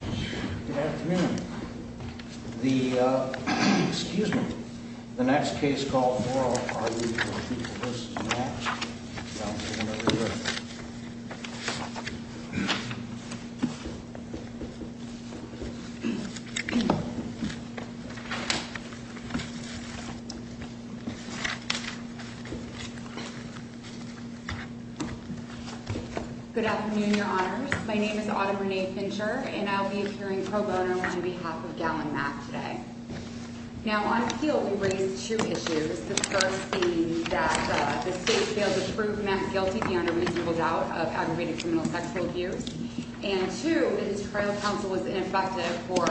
Good afternoon. The excuse me, the next case called Good afternoon, your honors. My name is Autumn Renee Fincher, and I'll be appearing pro bono on behalf of Gallon Mack today. Now on appeal, we raised two issues. The first being that the state failed to prove Mack guilty beyond a reasonable doubt of aggravated criminal sexual abuse. And two, his trial counsel was ineffective for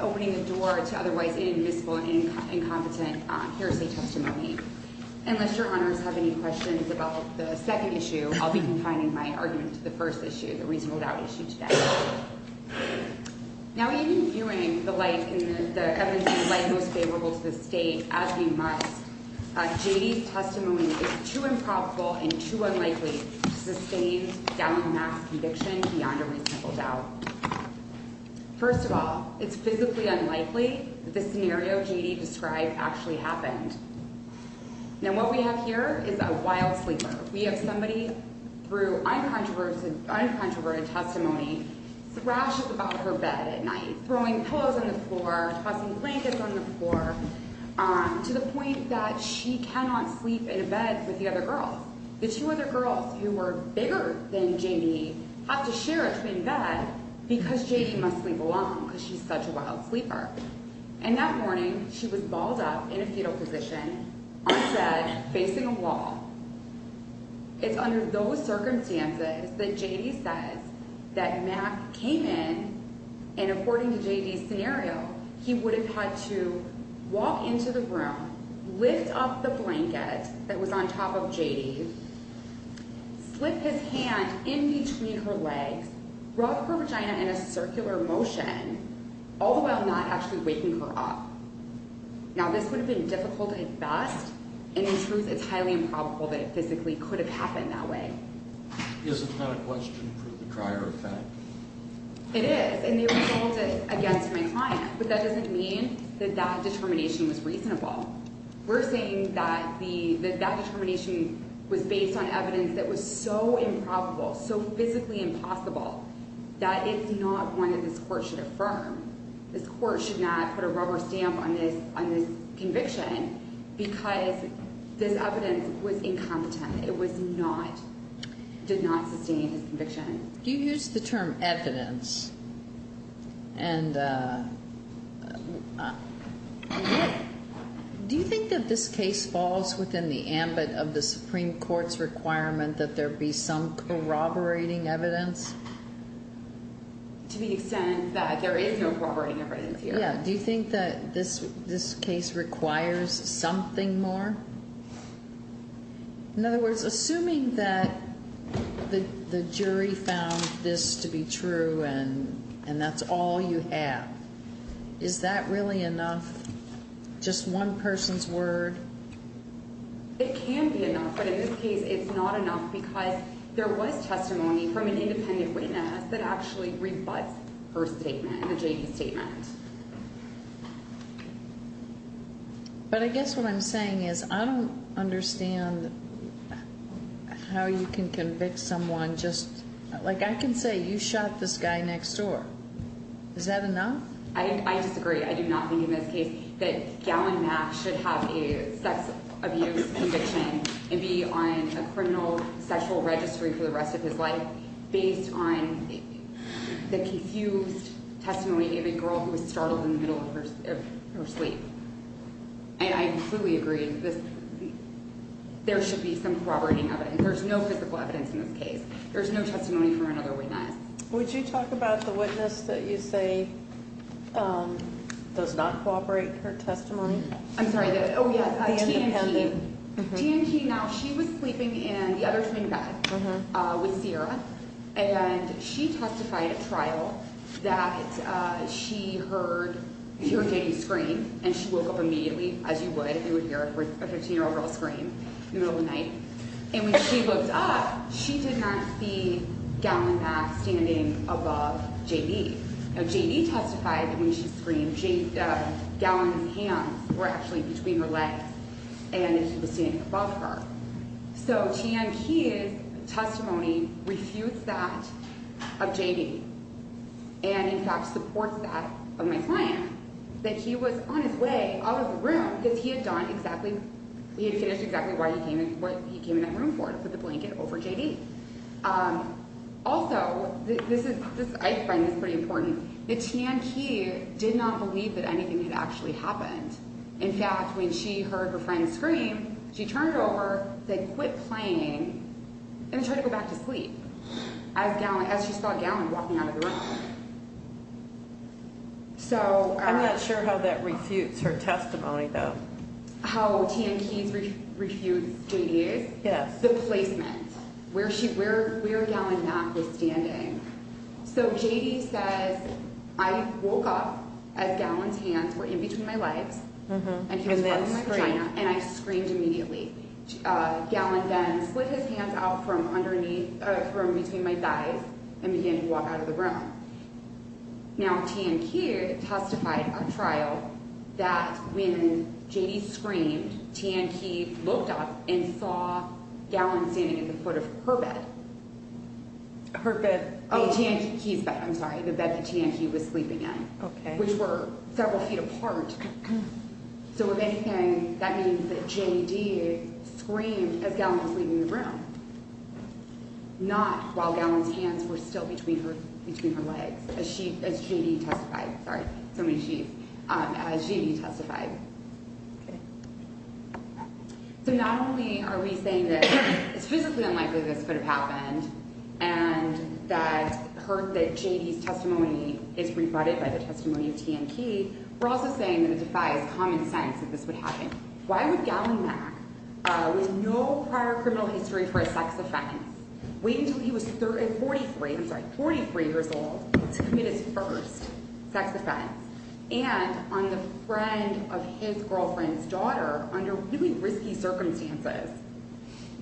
opening the door to otherwise inadmissible and incompetent hearsay testimony. Unless your honors have any questions about the second issue, I'll be confining my argument to the first issue, the reasonable doubt issue today. Now, even viewing the light in the evidence, the light most favorable to the state, as we must, J.D.'s testimony is too improbable and too unlikely to sustain Gallon Mack's conviction beyond a reasonable doubt. First of all, it's physically unlikely that the scenario J.D. described actually happened. Now what we have here is a wild sleeper. We have somebody through uncontroverted testimony thrashes about her bed at night, throwing pillows on the floor, tossing blankets on the floor, to the point that she cannot sleep in a bed with the other girls. The two other girls who were bigger than J.D. have to share a twin bed because J.D. must sleep alone because she's such a wild sleeper. And that morning, she was balled up in a fetal position on the bed facing a wall. It's under those circumstances that J.D. says that Mack came in, and according to J.D.'s scenario, he would have had to walk into the room, lift up the blanket that was on top of J.D., slip his hand in between her legs, rub her vagina in a circular motion, all the while not actually waking her up. Now this would have been difficult at best, and in truth, it's highly improbable that it physically could have happened that way. Is it not a question for the prior effect? It is, and it was held against my client, but that doesn't mean that that determination was reasonable. We're saying that that determination was based on evidence that was so improbable, so physically impossible, that it's not one that this court should affirm. This court should not put a rubber stamp on this conviction because this evidence was incompetent. It did not sustain his conviction. Do you use the term evidence? And do you think that this case falls within the ambit of the Supreme Court's requirement that there be some corroborating evidence? To the extent that there is no corroborating evidence here. Yeah, do you think that this case requires something more? In other words, assuming that the jury found this to be true and that's all you have, is that really enough, just one person's word? It can be enough, but in this case, it's not enough because there was testimony from an independent witness that actually rebuts her statement, the J.D. statement. But I guess what I'm saying is I don't understand how you can convict someone just, like I can say, you shot this guy next door. Is that enough? I disagree. I do not think in this case that Gallen-Mack should have a sex abuse conviction and be on a criminal sexual registry for the rest of his life based on the confused testimony of a girl who was startled in the middle of her sleep. And I completely agree. There should be some corroborating of it. There's no physical evidence in this case. There's no testimony from another witness. Would you talk about the witness that you say does not corroborate her testimony? I'm sorry. Oh, yeah. T.N. King. T.N. King, now, she was sleeping in the other twin bed with Sierra, and she testified at trial that she heard J.D. scream, and she woke up immediately, as you would if you would hear a 15-year-old girl scream in the middle of the night. And when she woke up, she did not see Gallen-Mack standing above J.D. Now, J.D. testified that when she screamed, Gallen-Mack's hands were actually between her legs and that he was standing above her. So T.N. King's testimony refutes that of J.D. and, in fact, supports that of my client, that he was on his way out of the room because he had finished exactly what he came in that room for, to put the blanket over J.D. Also, I find this pretty important, that T.N. King did not believe that anything had actually happened. In fact, when she heard her friend scream, she turned over, said, quit playing, and tried to go back to sleep as she saw Gallen walking out of the room. I'm not sure how that refutes her testimony, though. How T.N. King refutes J.D.'s? Yes. The placement, where Gallen-Mack was standing. So J.D. says, I woke up as Gallen's hands were in between my legs, and he was holding my vagina, and I screamed immediately. Gallen then split his hands out from underneath, from between my thighs, and began to walk out of the room. Now, T.N. King testified at trial that when J.D. screamed, T.N. King looked up and saw Gallen standing at the foot of her bed. Her bed. Oh, T.N. King's bed, I'm sorry, the bed that T.N. King was sleeping in. Okay. Which were several feet apart. So if anything, that means that J.D. screamed as Gallen was leaving the room. Not while Gallen's hands were still between her legs, as J.D. testified. Sorry, so many she's. As J.D. testified. Okay. So not only are we saying that it's physically unlikely this could have happened, and that hurt that J.D.'s testimony is rebutted by the testimony of T.N. King, we're also saying that it defies common sense that this would happen. Why would Gallen-Mack, with no prior criminal history for a sex offense, wait until he was 43, I'm sorry, 43 years old, to commit his first sex offense? And on the friend of his girlfriend's daughter under really risky circumstances.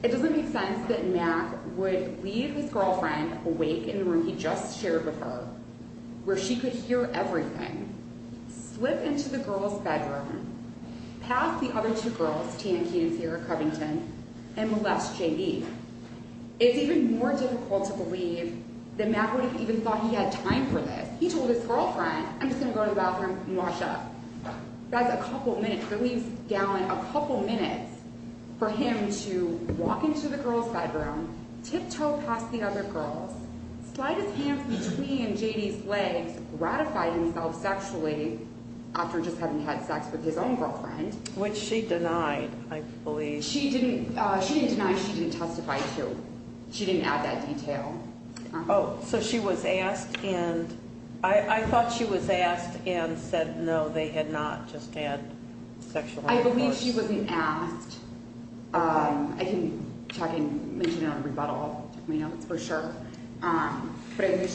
It doesn't make sense that Mack would leave his girlfriend awake in the room he just shared with her, where she could hear everything, slip into the girl's bedroom, pass the other two girls, T.N. King and Sierra Covington, and molest J.D. It's even more difficult to believe that Mack would have even thought he had time for this. He told his girlfriend, I'm just going to go to the bathroom and wash up. That's a couple minutes. It leaves Gallen a couple minutes for him to walk into the girl's bedroom, tiptoe past the other girls, slide his hands between J.D.'s legs, ratify himself sexually after just having had sex with his own girlfriend. Which she denied, I believe. She didn't deny, she didn't testify, too. She didn't add that detail. Oh, so she was asked, and I thought she was asked and said no, they had not just had sexual intercourse. I believe she wasn't asked. I can mention it on rebuttal, for sure. But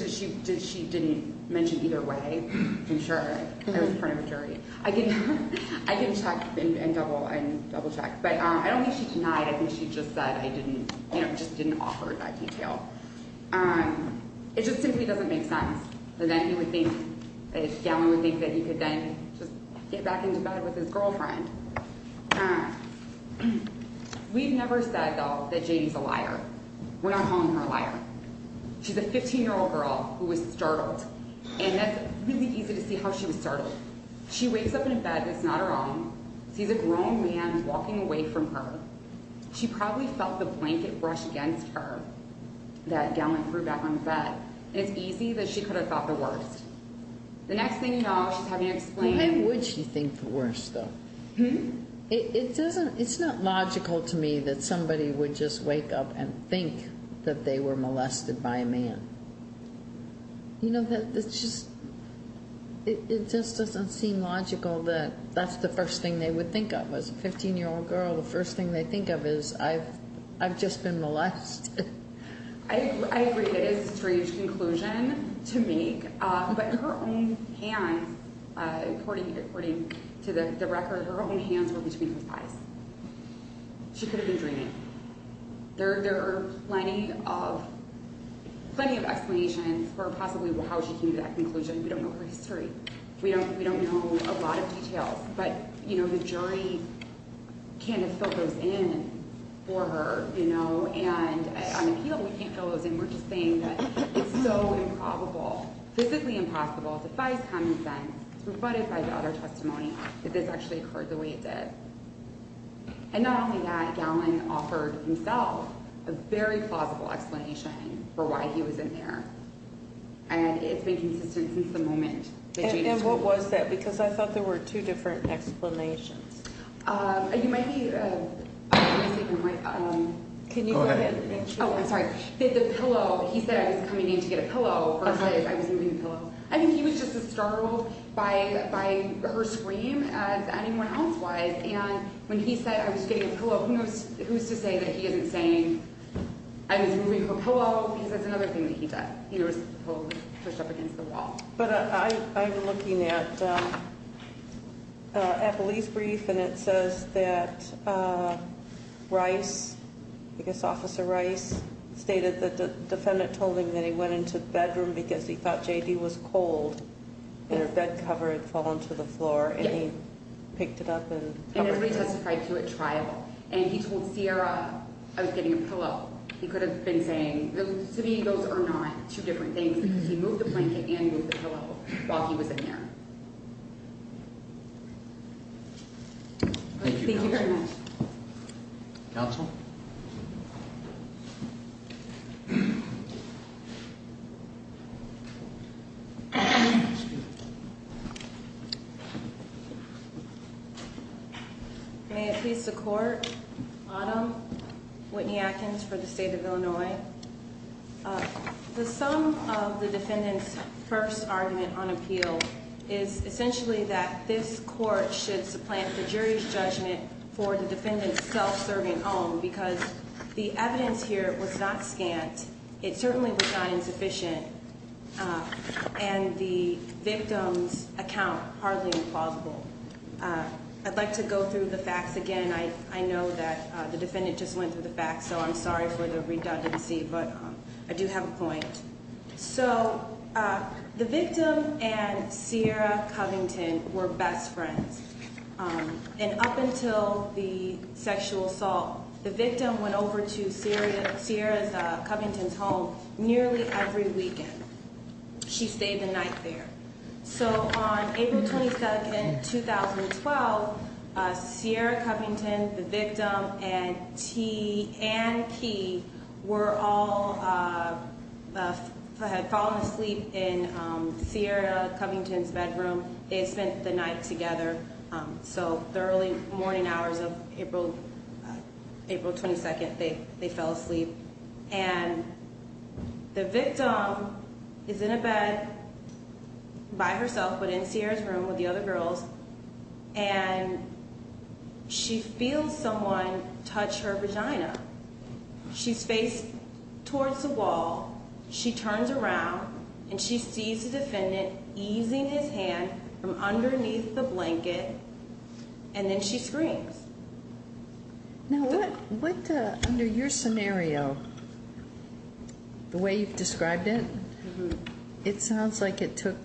she didn't mention either way, for sure. I was part of a jury. I can check and double check. But I don't think she denied, I think she just said I didn't, you know, just didn't offer that detail. It just simply doesn't make sense that then he would think, that Gallen would think that he could then just get back into bed with his girlfriend. We've never said, though, that J.D.'s a liar. We're not calling her a liar. She's a 15-year-old girl who was startled, and that's really easy to see how she was startled. She wakes up in a bed that's not her own, sees a grown man walking away from her. She probably felt the blanket brush against her that Gallen threw back on the bed, and it's easy that she could have thought the worst. The next thing you know, she's having to explain. Why would she think the worst, though? It's not logical to me that somebody would just wake up and think that they were molested by a man. You know, it just doesn't seem logical that that's the first thing they would think of. As a 15-year-old girl, the first thing they think of is, I've just been molested. I agree. That is a strange conclusion to make. But her own hands, according to the record, her own hands were between his eyes. She could have been dreaming. There are plenty of explanations for possibly how she came to that conclusion. We don't know her history. We don't know a lot of details. But, you know, the jury can't have filled those in for her, you know. And on appeal, we can't fill those in. We're just saying that it's so improbable, physically impossible, defies common sense. It's rebutted by the other testimony that this actually occurred the way it did. And not only that, Gallen offered himself a very plausible explanation for why he was in there. And it's been consistent since the moment that Jane was removed. And what was that? Because I thought there were two different explanations. You might be—can you go ahead? Oh, I'm sorry. The pillow. He said I was coming in to get a pillow. First I was moving the pillow. I think he was just as startled by her scream as anyone else was. And when he said I was getting a pillow, who's to say that he isn't saying I was moving her pillow? Because that's another thing that he did. He was pushed up against the wall. But I'm looking at a police brief, and it says that Rice, I guess Officer Rice, stated that the defendant told him that he went into the bedroom because he thought J.D. was cold, and her bed cover had fallen to the floor, and he picked it up and covered it. And it was re-testified to at trial. And he told Sierra I was getting a pillow. He could have been saying, to me, those are not two different things, because he moved the blanket and moved the pillow while he was in there. Thank you very much. Counsel? Thank you. May it please the Court. Autumn Whitney-Atkins for the State of Illinois. The sum of the defendant's first argument on appeal is essentially that this court should supplant the jury's judgment for the defendant's self-serving own, because the evidence here was not scant. It certainly was not insufficient, and the victim's account hardly plausible. I'd like to go through the facts again. I know that the defendant just went through the facts, so I'm sorry for the redundancy, but I do have a point. So the victim and Sierra Covington were best friends. And up until the sexual assault, the victim went over to Sierra Covington's home nearly every weekend. She stayed the night there. So on April 22, 2012, Sierra Covington, the victim, and T and P were all, had fallen asleep in Sierra Covington's bedroom. They had spent the night together. So the early morning hours of April 22, they fell asleep. And the victim is in a bed by herself but in Sierra's room with the other girls, and she feels someone touch her vagina. She's faced towards the wall. She turns around, and she sees the defendant easing his hand from underneath the blanket, and then she screams. Now, what, under your scenario, the way you've described it, it sounds like it took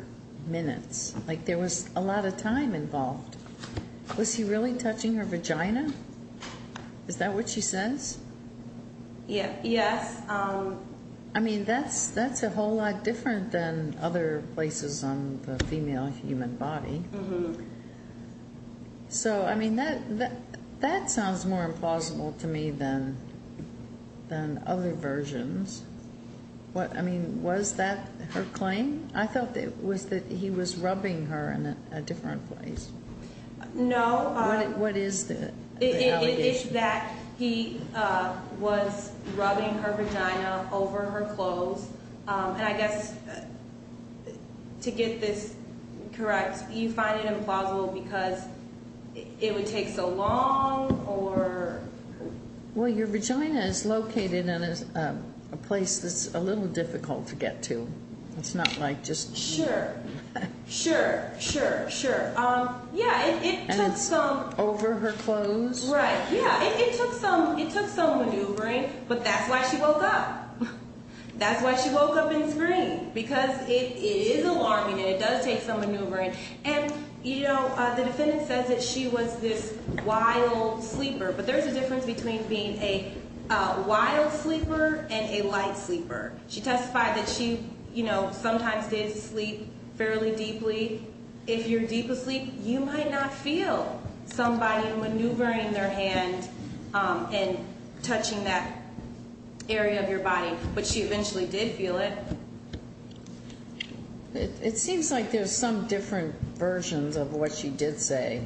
minutes. Like there was a lot of time involved. Was he really touching her vagina? Is that what she says? Yes. I mean, that's a whole lot different than other places on the female human body. So, I mean, that sounds more implausible to me than other versions. I mean, was that her claim? I thought it was that he was rubbing her in a different place. No. What is the allegation? It's that he was rubbing her vagina over her clothes. And I guess to get this correct, you find it implausible because it would take so long or? Well, your vagina is located in a place that's a little difficult to get to. It's not like just. Sure, sure, sure, sure. And it's over her clothes? Right, yeah. It took some maneuvering, but that's why she woke up. That's why she woke up and screamed because it is alarming and it does take some maneuvering. And, you know, the defendant says that she was this wild sleeper, but there's a difference between being a wild sleeper and a light sleeper. She testified that she, you know, sometimes did sleep fairly deeply. If you're deep asleep, you might not feel somebody maneuvering their hand and touching that area of your body. But she eventually did feel it. It seems like there's some different versions of what she did say.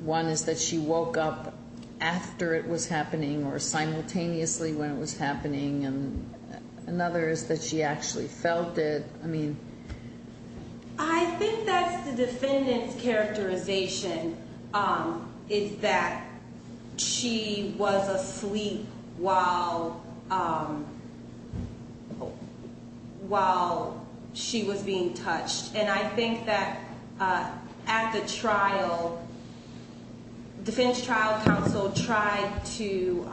One is that she woke up after it was happening or simultaneously when it was happening. And another is that she actually felt it. I think that's the defendant's characterization is that she was asleep while she was being touched. And I think that at the trial, the defendant's trial counsel tried to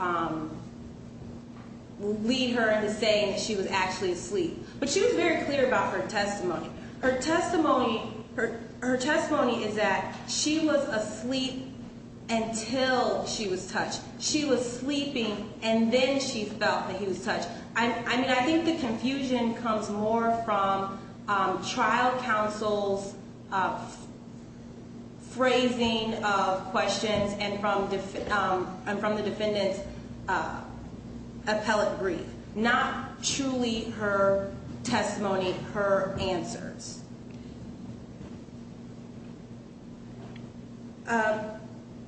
lead her into saying that she was actually asleep. But she was very clear about her testimony. Her testimony is that she was asleep until she was touched. She was sleeping and then she felt that he was touched. I mean, I think the confusion comes more from trial counsel's phrasing of questions and from the defendant's appellate brief. Not truly her testimony, her answers.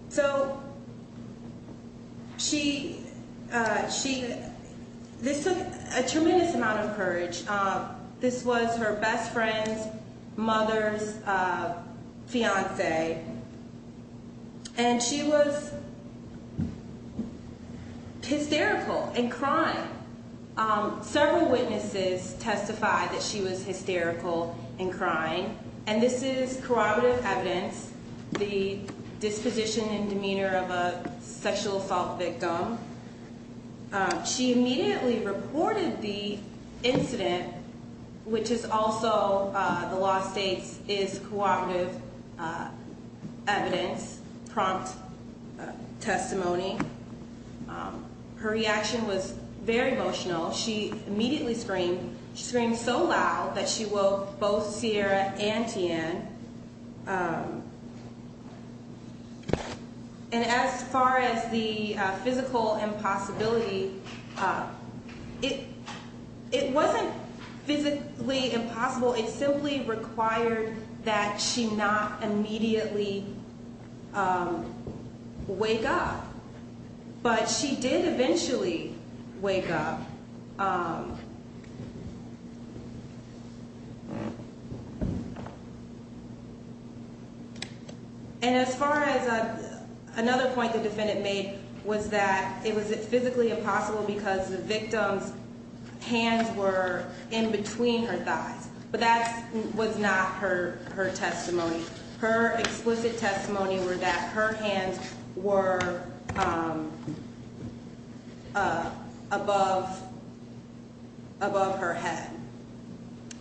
So she, this took a tremendous amount of courage. This was her best friend's mother's fiancé. And she was hysterical and crying. Several witnesses testified that she was hysterical and crying. And this is corroborative evidence, the disposition and demeanor of a sexual assault victim. She immediately reported the incident, which is also, the law states, is corroborative evidence, prompt testimony. Her reaction was very emotional. She immediately screamed. She screamed so loud that she woke both Sierra and Tian. And as far as the physical impossibility, it wasn't physically impossible. It simply required that she not immediately wake up. But she did eventually wake up. And as far as another point the defendant made was that it was physically impossible because the victim's hands were in between her thighs. But that was not her testimony. Her explicit testimony were that her hands were above her head.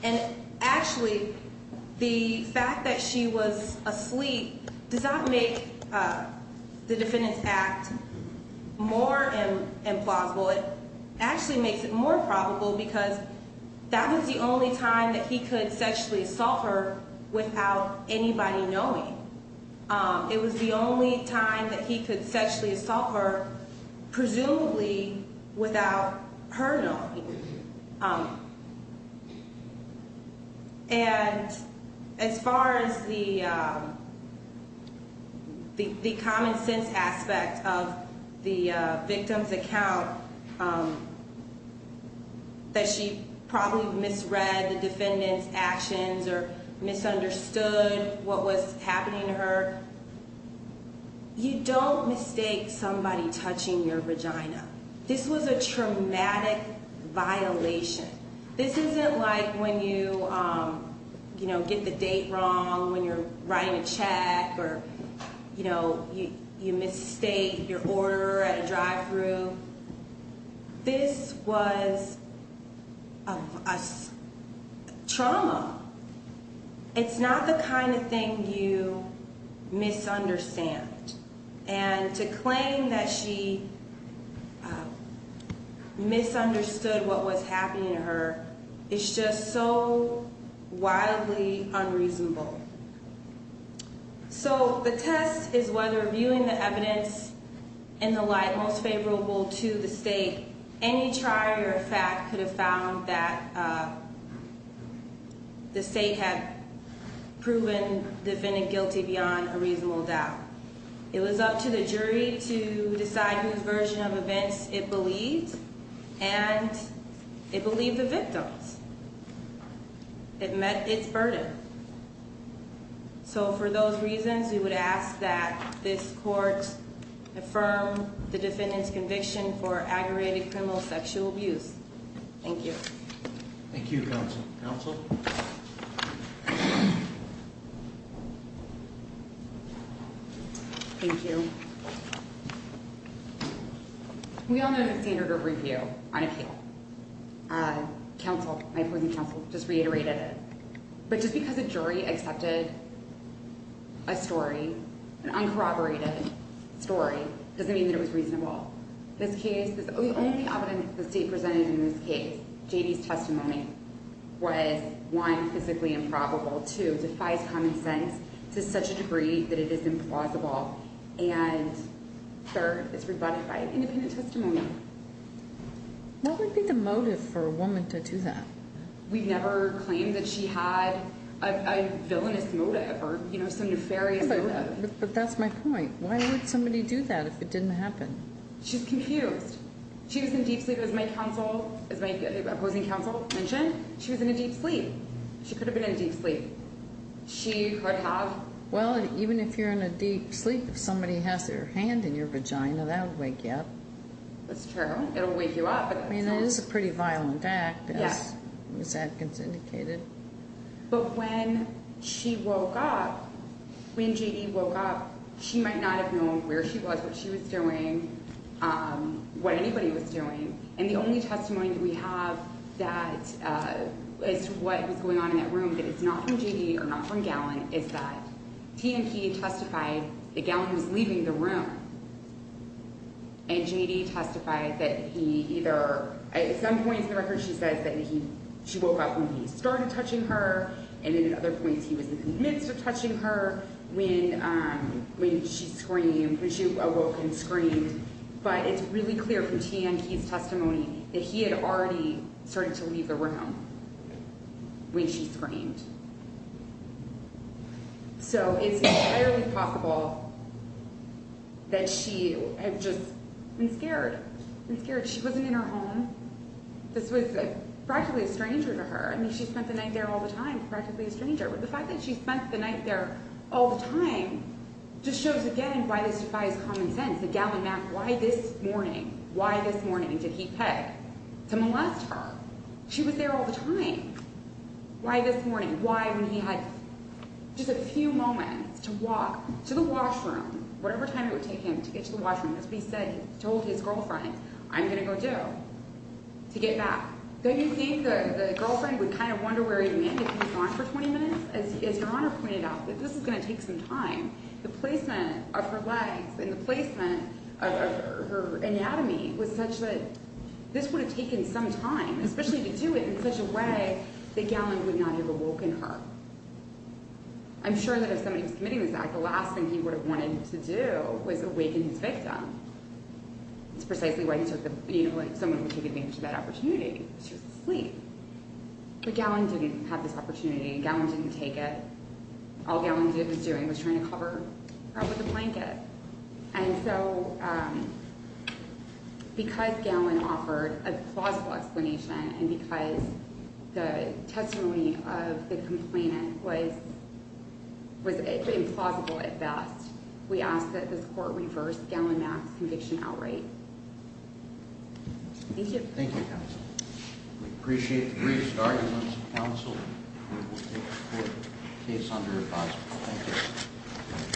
And actually, the fact that she was asleep does not make the defendant's act more implausible. It actually makes it more probable because that was the only time that he could sexually assault her without anybody knowing. It was the only time that he could sexually assault her, presumably, without her knowing. And as far as the common sense aspect of the victim's account, that she probably misread the defendant's actions or misunderstood what was happening to her, you don't mistake somebody touching your vagina. This was a traumatic violation. This isn't like when you get the date wrong, when you're writing a check, or you mistake your order at a drive-thru. This was a trauma. It's not the kind of thing you misunderstand. And to claim that she misunderstood what was happening to her is just so wildly unreasonable. So the test is whether, viewing the evidence in the light most favorable to the state, any trial or fact could have found that the state had proven the defendant guilty beyond a reasonable doubt. It was up to the jury to decide whose version of events it believed. And it believed the victim's. It met its burden. So for those reasons, we would ask that this court affirm the defendant's conviction for aggravated criminal sexual abuse. Thank you. Thank you, counsel. Counsel? Thank you. We all know the standard of review on a case. Counsel, my opposing counsel, just reiterated it. But just because a jury accepted a story, an uncorroborated story, doesn't mean that it was reasonable. The only evidence the state presented in this case, J.D.'s testimony, was, one, physically improbable. Two, defies common sense to such a degree that it is implausible. And third, it's rebutted by independent testimony. What would be the motive for a woman to do that? We've never claimed that she had a villainous motive or, you know, some nefarious motive. But that's my point. Why would somebody do that if it didn't happen? She's confused. She was in deep sleep, as my counsel, as my opposing counsel mentioned. She was in a deep sleep. She could have been in deep sleep. She could have. Well, even if you're in a deep sleep, if somebody has their hand in your vagina, that would wake you up. That's true. It'll wake you up. I mean, it is a pretty violent act, as Ms. Adkins indicated. But when she woke up, when J.D. woke up, she might not have known where she was, what she was doing, what anybody was doing. And the only testimony we have that is to what was going on in that room that is not from J.D. or not from Gallin is that T&P testified that Gallin was leaving the room. And J.D. testified that he either, at some points in the record she says that she woke up when he started touching her, and then at other points he was in the midst of touching her when she screamed, when she awoke and screamed. But it's really clear from T&P's testimony that he had already started to leave the room when she screamed. So it's entirely possible that she had just been scared, been scared. She wasn't in her home. This was practically a stranger to her. I mean, she spent the night there all the time, practically a stranger. But the fact that she spent the night there all the time just shows again why this defies common sense. That Gallin asked, why this morning, why this morning did he pay to molest her? She was there all the time. Why this morning? Why when he had just a few moments to walk to the washroom, whatever time it would take him to get to the washroom, as we said, he told his girlfriend, I'm going to go do, to get back. Don't you think the girlfriend would kind of wonder where he went if he was gone for 20 minutes? As Your Honor pointed out, this is going to take some time. The placement of her legs and the placement of her anatomy was such that this would have taken some time, especially to do it in such a way that Gallin would not have awoken her. I'm sure that if somebody was committing this act, the last thing he would have wanted to do was awaken his victim. It's precisely why he took the, you know, like someone would take advantage of that opportunity. She was asleep. But Gallin didn't have this opportunity. Gallin didn't take it. All Gallin was doing was trying to cover her up with a blanket. And so because Gallin offered a plausible explanation and because the testimony of the complainant was implausible at best, we ask that this court reverse Gallin Mack's conviction outright. Thank you. Thank you, counsel. We appreciate the brief start, counsel. The court is under advisement. Thank you.